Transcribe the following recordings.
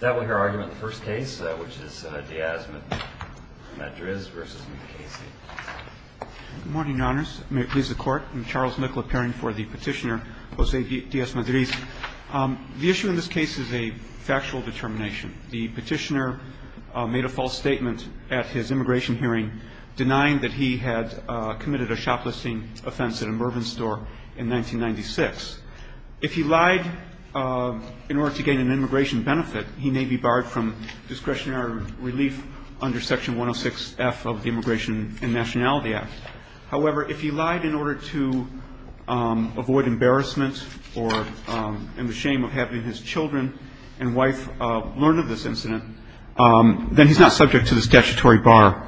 That would be our argument in the first case, which is Díaz-Madriz v. Mukasey. Good morning, Your Honors. May it please the Court. I'm Charles Nicol, appearing for the petitioner, José Díaz-Madriz. The issue in this case is a factual determination. The petitioner made a false statement at his immigration hearing, denying that he had committed a shoplisting offense at a Mervyn store in 1996. If he lied in order to gain an immigration benefit, he may be barred from discretionary relief under Section 106F of the Immigration and Nationality Act. However, if he lied in order to avoid embarrassment or the shame of having his children and wife learn of this incident, then he's not subject to this statutory bar.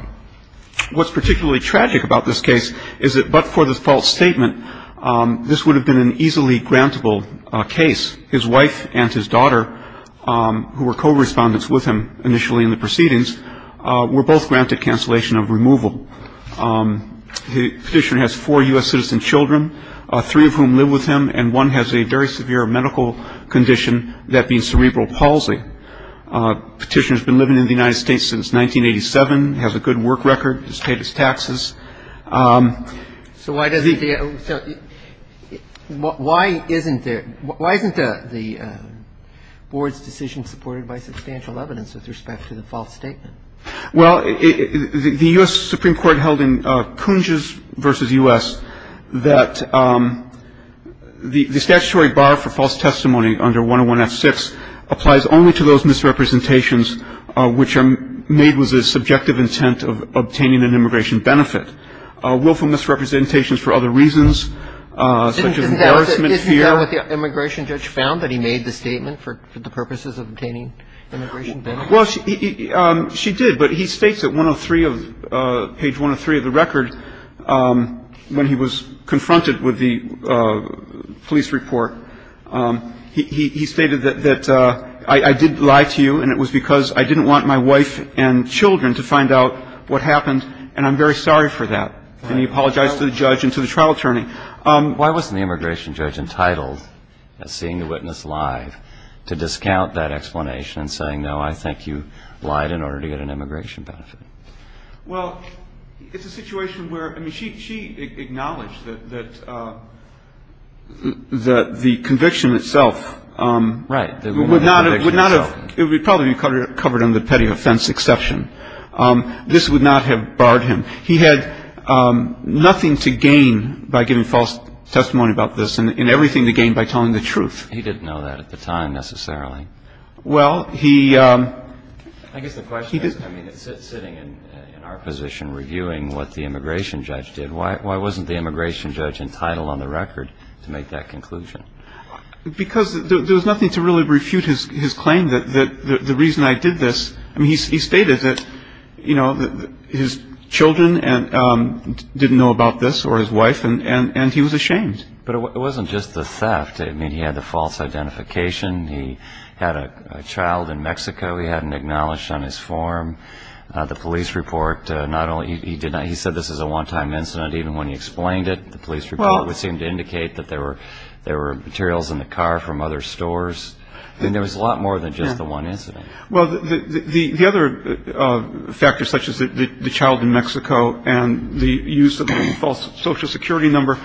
What's particularly tragic about this case is that but for the false statement, this would have been an easily grantable case. His wife and his daughter, who were co-respondents with him initially in the proceedings, were both granted cancellation of removal. The petitioner has four U.S. citizen children, three of whom live with him, and one has a very severe medical condition that means cerebral palsy. The petitioner has been living in the United States since 1987, has a good work record, has paid his taxes. So why doesn't the – so why isn't there – why isn't the Board's decision supported by substantial evidence with respect to the false statement? Well, the U.S. Supreme Court held in Kunzges v. U.S. that the statutory bar for false testimony under 101F6 applies only to those misrepresentations which are made with the subjective intent of obtaining an immigration benefit. Willful misrepresentations for other reasons, such as embarrassment, fear. Isn't that what the immigration judge found, that he made the statement for the purposes of obtaining immigration benefits? Well, she did, but he states at 103 of – page 103 of the record, when he was confronted with the police report, he stated that I did lie to you and it was because I didn't want my wife and children to find out what happened and I'm very sorry for that. And he apologized to the judge and to the trial attorney. Why wasn't the immigration judge entitled, seeing the witness live, to discount that explanation and saying, no, I think you lied in order to get an immigration benefit? Well, it's a situation where – I mean, she acknowledged that the conviction itself would not have – Right. It would probably be covered under the petty offense exception. This would not have barred him. He had nothing to gain by giving false testimony about this and everything to gain by telling the truth. He didn't know that at the time, necessarily. Well, he – I guess the question is, I mean, sitting in our position reviewing what the immigration judge did, why wasn't the immigration judge entitled on the record to make that conclusion? Because there was nothing to really refute his claim that the reason I did this – I mean, he stated that, you know, his children didn't know about this or his wife, and he was ashamed. But it wasn't just the theft. I mean, he had the false identification. He had a child in Mexico he hadn't acknowledged on his form. The police report, not only – he said this was a one-time incident even when he explained it. The police report would seem to indicate that there were materials in the car from other stores. I mean, there was a lot more than just the one incident. Well, the other factors such as the child in Mexico and the use of a false Social Security number,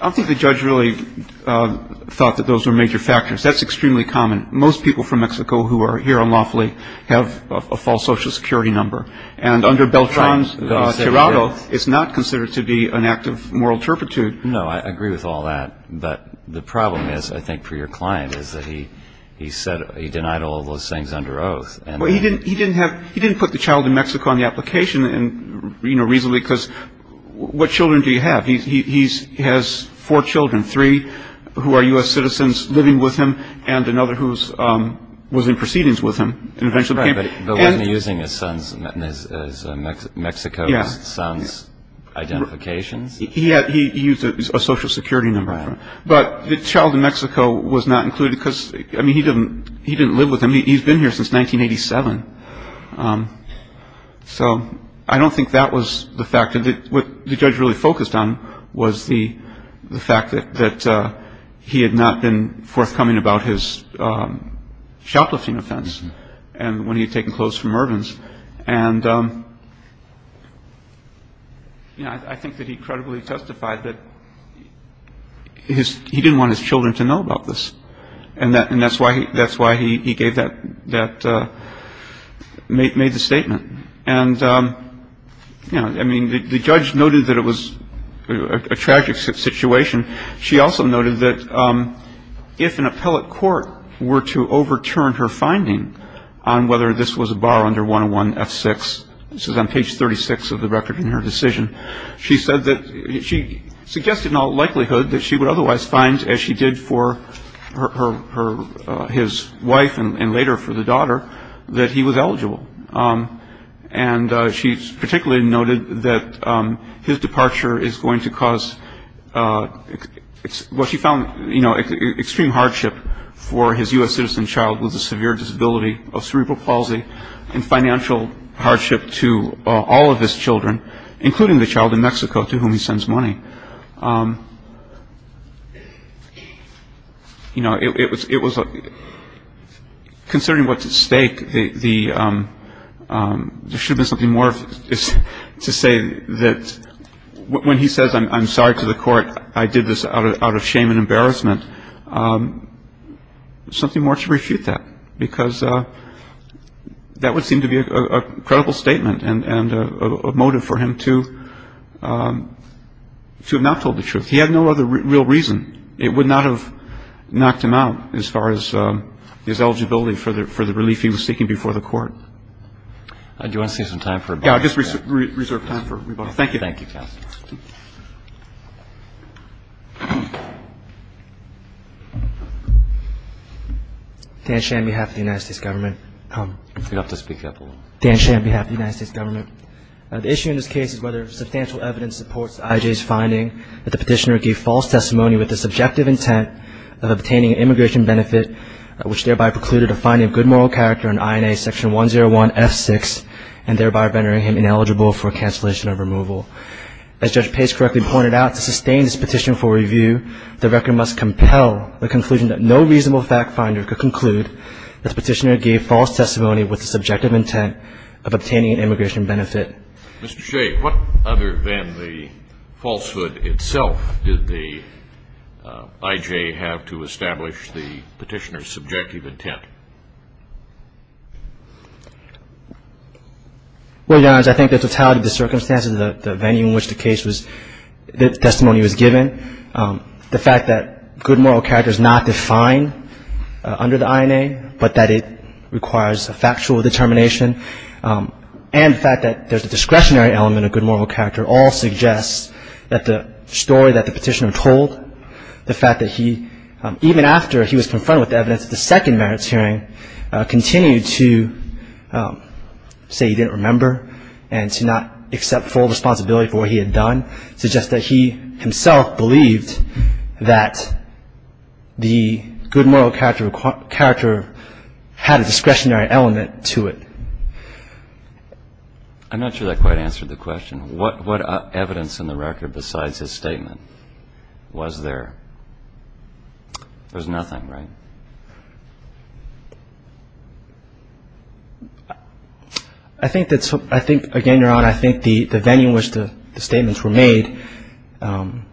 I don't think the judge really thought that those were major factors. That's extremely common. Most people from Mexico who are here unlawfully have a false Social Security number. And under Beltran's – No, I said that – Tirado, it's not considered to be an act of moral turpitude. No, I agree with all that. But the problem is, I think, for your client is that he denied all those things under oath. Well, he didn't put the child in Mexico on the application reasonably because what children do you have? He has four children, three who are U.S. citizens living with him and another who was in proceedings with him. But wasn't he using his son's – Mexico's son's identifications? He used a Social Security number. Right. But the child in Mexico was not included because, I mean, he didn't live with him. He's been here since 1987. So I don't think that was the factor. What the judge really focused on was the fact that he had not been forthcoming about his shoplifting offense when he had taken clothes from Irvin's. And, you know, I think that he credibly testified that he didn't want his children to know about this. And that's why he gave that – made the statement. And, you know, I mean, the judge noted that it was a tragic situation. And she also noted that if an appellate court were to overturn her finding on whether this was a bar under 101F6, this is on page 36 of the record in her decision, she said that – she suggested in all likelihood that she would otherwise find, as she did for her – his wife and later for the daughter, that he was eligible. And she particularly noted that his departure is going to cause what she found, you know, extreme hardship for his U.S. citizen child with a severe disability of cerebral palsy and financial hardship to all of his children, including the child in Mexico to whom he sends money. So, you know, it was – considering what's at stake, there should have been something more to say that when he says, I'm sorry to the court, I did this out of shame and embarrassment, something more to refute that. And I think that's a good point, because that would seem to be a credible statement and a motive for him to have not told the truth. He had no other real reason. It would not have knocked him out as far as his eligibility for the relief he was seeking before the court. Do you want to save some time for rebuttal? Yeah, I'll just reserve time for rebuttal. Thank you. Thank you, counsel. Dan Shan, on behalf of the United States Government. You don't have to speak up. Dan Shan, on behalf of the United States Government. The issue in this case is whether substantial evidence supports I.J.'s finding that the petitioner gave false testimony with the subjective intent of obtaining an immigration benefit, which thereby precluded a finding of good moral character on INA Section 101F6 and thereby rendering him ineligible for cancellation of removal. As Judge Pace correctly pointed out, to sustain this petition for review, the record must compel the conclusion that no reasonable fact finder could conclude that the petitioner gave false testimony with the subjective intent of obtaining an immigration benefit. Mr. Shea, what other than the falsehood itself did the I.J. have to establish the petitioner's subjective intent? Well, Your Honors, I think the totality of the circumstances, the venue in which the case was, the testimony was given, the fact that good moral character is not defined under the INA, but that it requires a factual determination, and the fact that there's a discretionary element of good moral character, all suggests that the story that the petitioner told, the fact that he, even after he was confronted with evidence of the second merits hearing, continued to say he didn't remember and to not accept full responsibility for what he had done, suggests that he himself believed that the good moral character had a discretionary element to it. I'm not sure that quite answered the question. What evidence in the record besides his statement was there? There's nothing, right? I think, again, Your Honor, I think the venue in which the statements were made, I'm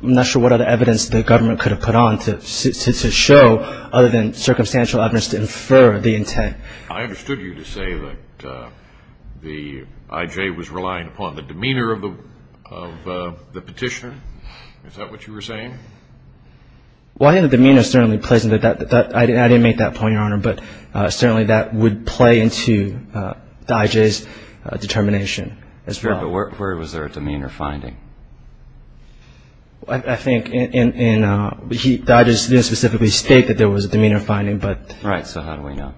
not sure what other evidence the government could have put on to show other than circumstantial evidence to infer the intent. I understood you to say that the I.J. was relying upon the demeanor of the petitioner. Is that what you were saying? Well, I think the demeanor certainly plays into that. I didn't make that point, Your Honor, but certainly that would play into the I.J.'s determination as well. Where was there a demeanor finding? I think the I.J. didn't specifically state that there was a demeanor finding. Right, so how do we know?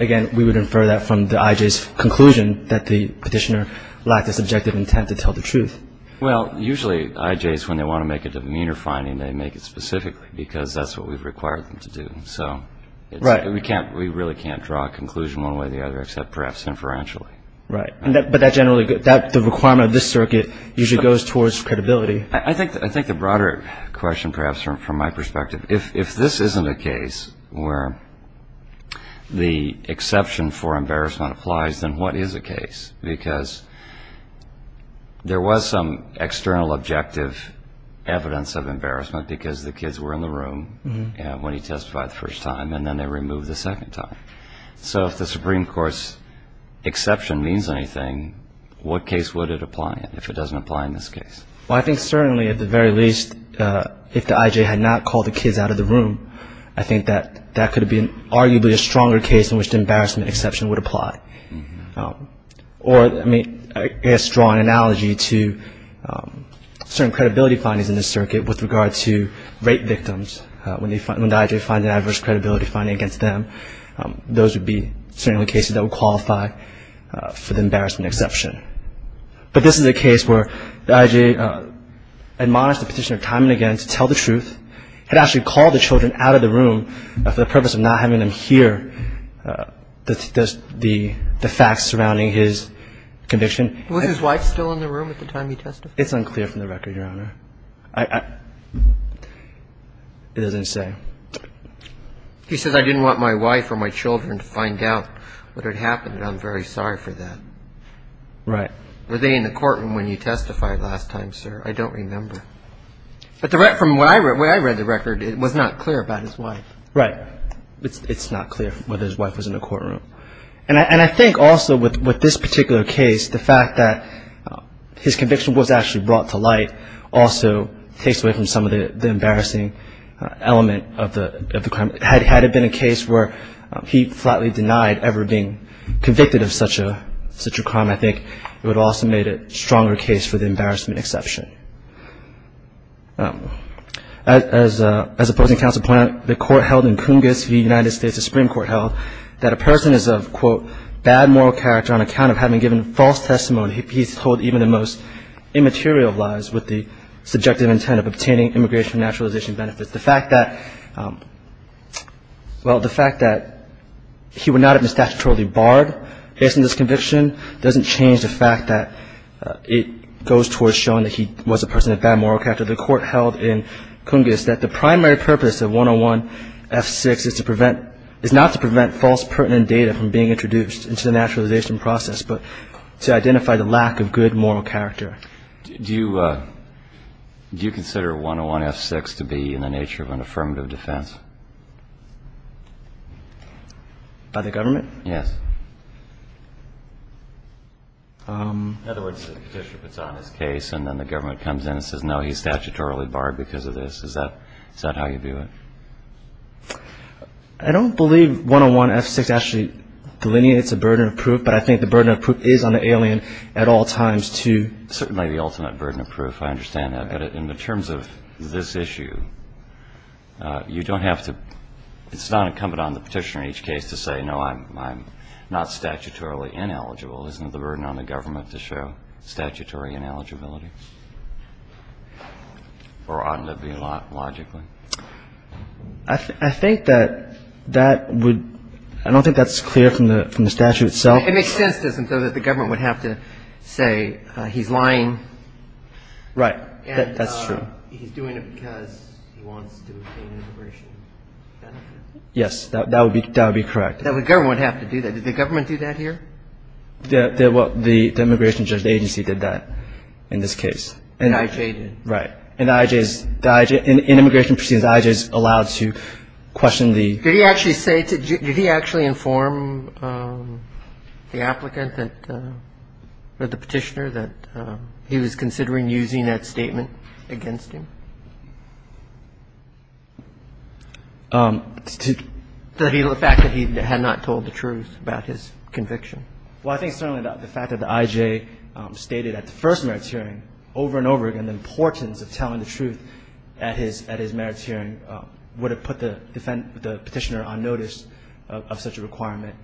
Again, we would infer that from the I.J.'s conclusion that the petitioner lacked a subjective intent to tell the truth. Well, usually I.J.'s, when they want to make a demeanor finding, they make it specifically because that's what we've required them to do. So we really can't draw a conclusion one way or the other except perhaps inferentially. Right. But the requirement of this circuit usually goes towards credibility. I think the broader question perhaps from my perspective, if this isn't a case where the exception for embarrassment applies, then what is a case? Because there was some external objective evidence of embarrassment because the kids were in the room when he testified the first time, and then they were removed the second time. So if the Supreme Court's exception means anything, what case would it apply in if it doesn't apply in this case? Well, I think certainly at the very least, if the I.J. had not called the kids out of the room, I think that that could have been arguably a stronger case in which the embarrassment exception would apply. Or, I mean, I guess draw an analogy to certain credibility findings in this circuit with regard to rape victims. When the I.J. finds an adverse credibility finding against them, those would be certainly cases that would qualify for the embarrassment exception. But this is a case where the I.J. admonished the Petitioner time and again to tell the truth, had actually called the children out of the room for the purpose of not having them hear the facts surrounding his conviction. Was his wife still in the room at the time he testified? It's unclear from the record, Your Honor. It doesn't say. He says, I didn't want my wife or my children to find out what had happened, and I'm very sorry for that. Right. Were they in the courtroom when you testified last time, sir? I don't remember. But from where I read the record, it was not clear about his wife. Right. It's not clear whether his wife was in the courtroom. And I think also with this particular case, the fact that his conviction was actually brought to light also takes away from some of the embarrassing element of the crime. Had it been a case where he flatly denied ever being convicted of such a crime, I think it would have also made it a stronger case for the embarrassment exception. As opposing counsel pointed out, the court held in Coongis v. United States, the Supreme Court held, that a person is of, quote, a bad moral character on account of having given false testimony. He's told even the most immaterial lies with the subjective intent of obtaining immigration naturalization benefits. The fact that, well, the fact that he would not have been statutorily barred based on this conviction doesn't change the fact that it goes towards showing that he was a person of bad moral character. The court held in Coongis that the primary purpose of 101F6 is to prevent, quote, false pertinent data from being introduced into the naturalization process, but to identify the lack of good moral character. Do you consider 101F6 to be in the nature of an affirmative defense? By the government? Yes. In other words, the petitioner puts on his case and then the government comes in and says, no, he's statutorily barred because of this. Is that how you view it? I don't believe 101F6 actually delineates a burden of proof, but I think the burden of proof is on the alien at all times to ---- Certainly the ultimate burden of proof, I understand that. But in the terms of this issue, you don't have to ---- it's not incumbent on the petitioner in each case to say, no, I'm not statutorily ineligible. Isn't it the burden on the government to show statutory ineligibility? I think that that would ---- I don't think that's clear from the statute itself. It makes sense, doesn't it, that the government would have to say he's lying. Right. That's true. And he's doing it because he wants to obtain immigration benefits. Yes. That would be correct. The government would have to do that. Well, the immigration agency did that in this case. The I.J. did. Right. And the I.J. is ---- in immigration proceedings, the I.J. is allowed to question the ---- Did he actually say to ---- did he actually inform the applicant that ---- or the petitioner that he was considering using that statement against him? To ---- The fact that he had not told the truth about his conviction. Well, I think certainly the fact that the I.J. stated at the first merits hearing over and over again the importance of telling the truth at his merits hearing would have put the petitioner on notice of such a requirement.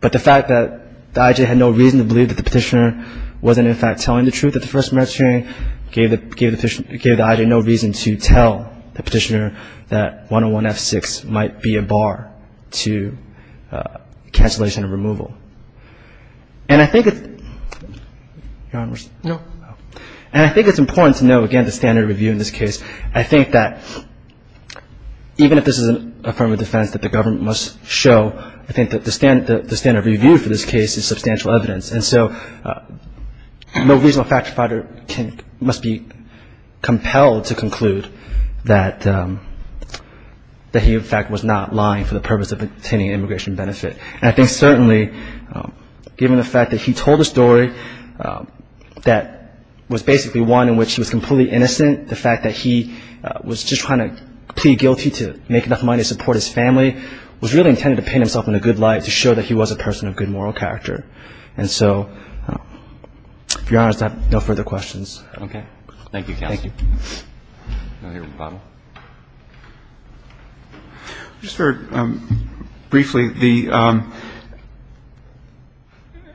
But the fact that the I.J. had no reason to believe that the petitioner wasn't, in fact, telling the truth at the first merits hearing gave the I.J. no reason to tell the petitioner that And I think it's important to know, again, the standard of review in this case. I think that even if this is a form of defense that the government must show, I think that the standard of review for this case is substantial evidence. And so no reasonable factor must be compelled to conclude that he, in fact, was not lying for the purpose of obtaining an immigration benefit. And I think certainly, given the fact that he told a story that was basically one in which he was completely innocent, the fact that he was just trying to plead guilty to make enough money to support his family was really intended to paint himself in a good light to show that he was a person of good moral character. And so, to be honest, I have no further questions. Okay. Thank you, counsel. Thank you. Another bottle? Just very briefly,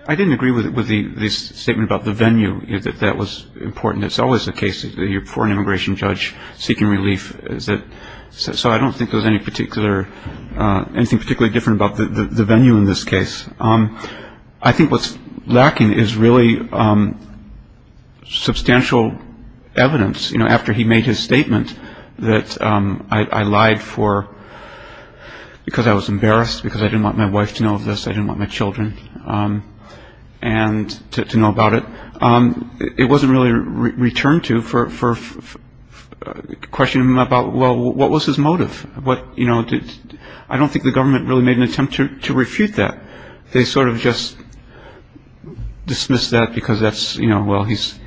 I didn't agree with the statement about the venue, that that was important. It's always the case that you're before an immigration judge seeking relief. So I don't think there's anything particularly different about the venue in this case. I think what's lacking is really substantial evidence, you know, where he made his statement that I lied for because I was embarrassed, because I didn't want my wife to know this, I didn't want my children to know about it. It wasn't really returned to for questioning about, well, what was his motive? I don't think the government really made an attempt to refute that. They sort of just dismissed that because that's, you know, well, he's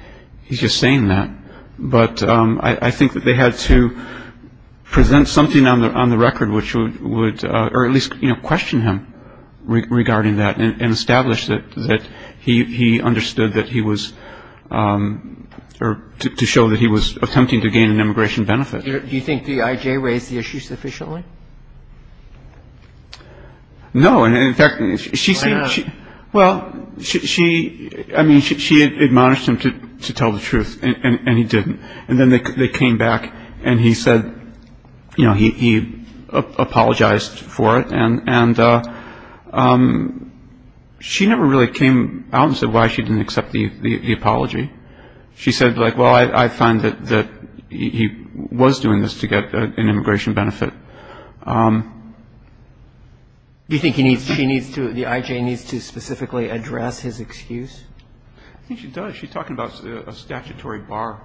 just saying that. But I think that they had to present something on the record which would or at least, you know, question him regarding that and establish that he understood that he was or to show that he was attempting to gain an immigration benefit. Do you think D.I.J. raised the issue sufficiently? No. Well, she, I mean, she admonished him to tell the truth and he didn't. And then they came back and he said, you know, he apologized for it. And she never really came out and said why she didn't accept the apology. She said, like, well, I find that he was doing this to get an immigration benefit. Do you think he needs to, she needs to, D.I.J. needs to specifically address his excuse? I think she does. She's talking about a statutory bar.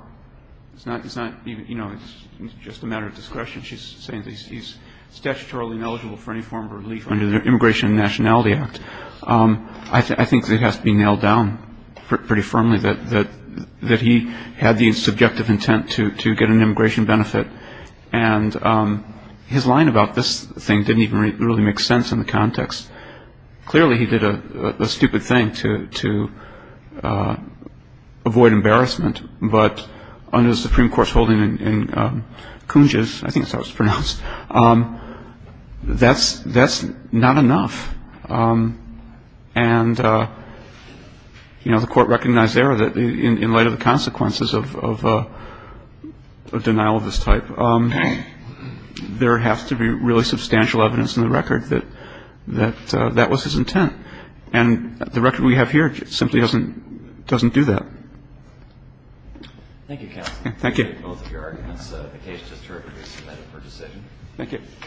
It's not, you know, it's just a matter of discretion. She's saying that he's statutorily ineligible for any form of relief under the Immigration and Nationality Act. I think it has to be nailed down pretty firmly that he had the subjective intent to get an immigration benefit. And his line about this thing didn't even really make sense in the context. Clearly, he did a stupid thing to avoid embarrassment. But under the Supreme Court's holding in Kunj's, I think that's how it's pronounced, that's not enough. And, you know, the Court recognized there that in light of the consequences of denial of this type, there has to be really substantial evidence in the record that that was his intent. And the record we have here simply doesn't do that. Thank you, counsel. Thank you. I appreciate both of your arguments. The case is terribly resubmitted for decision. Thank you.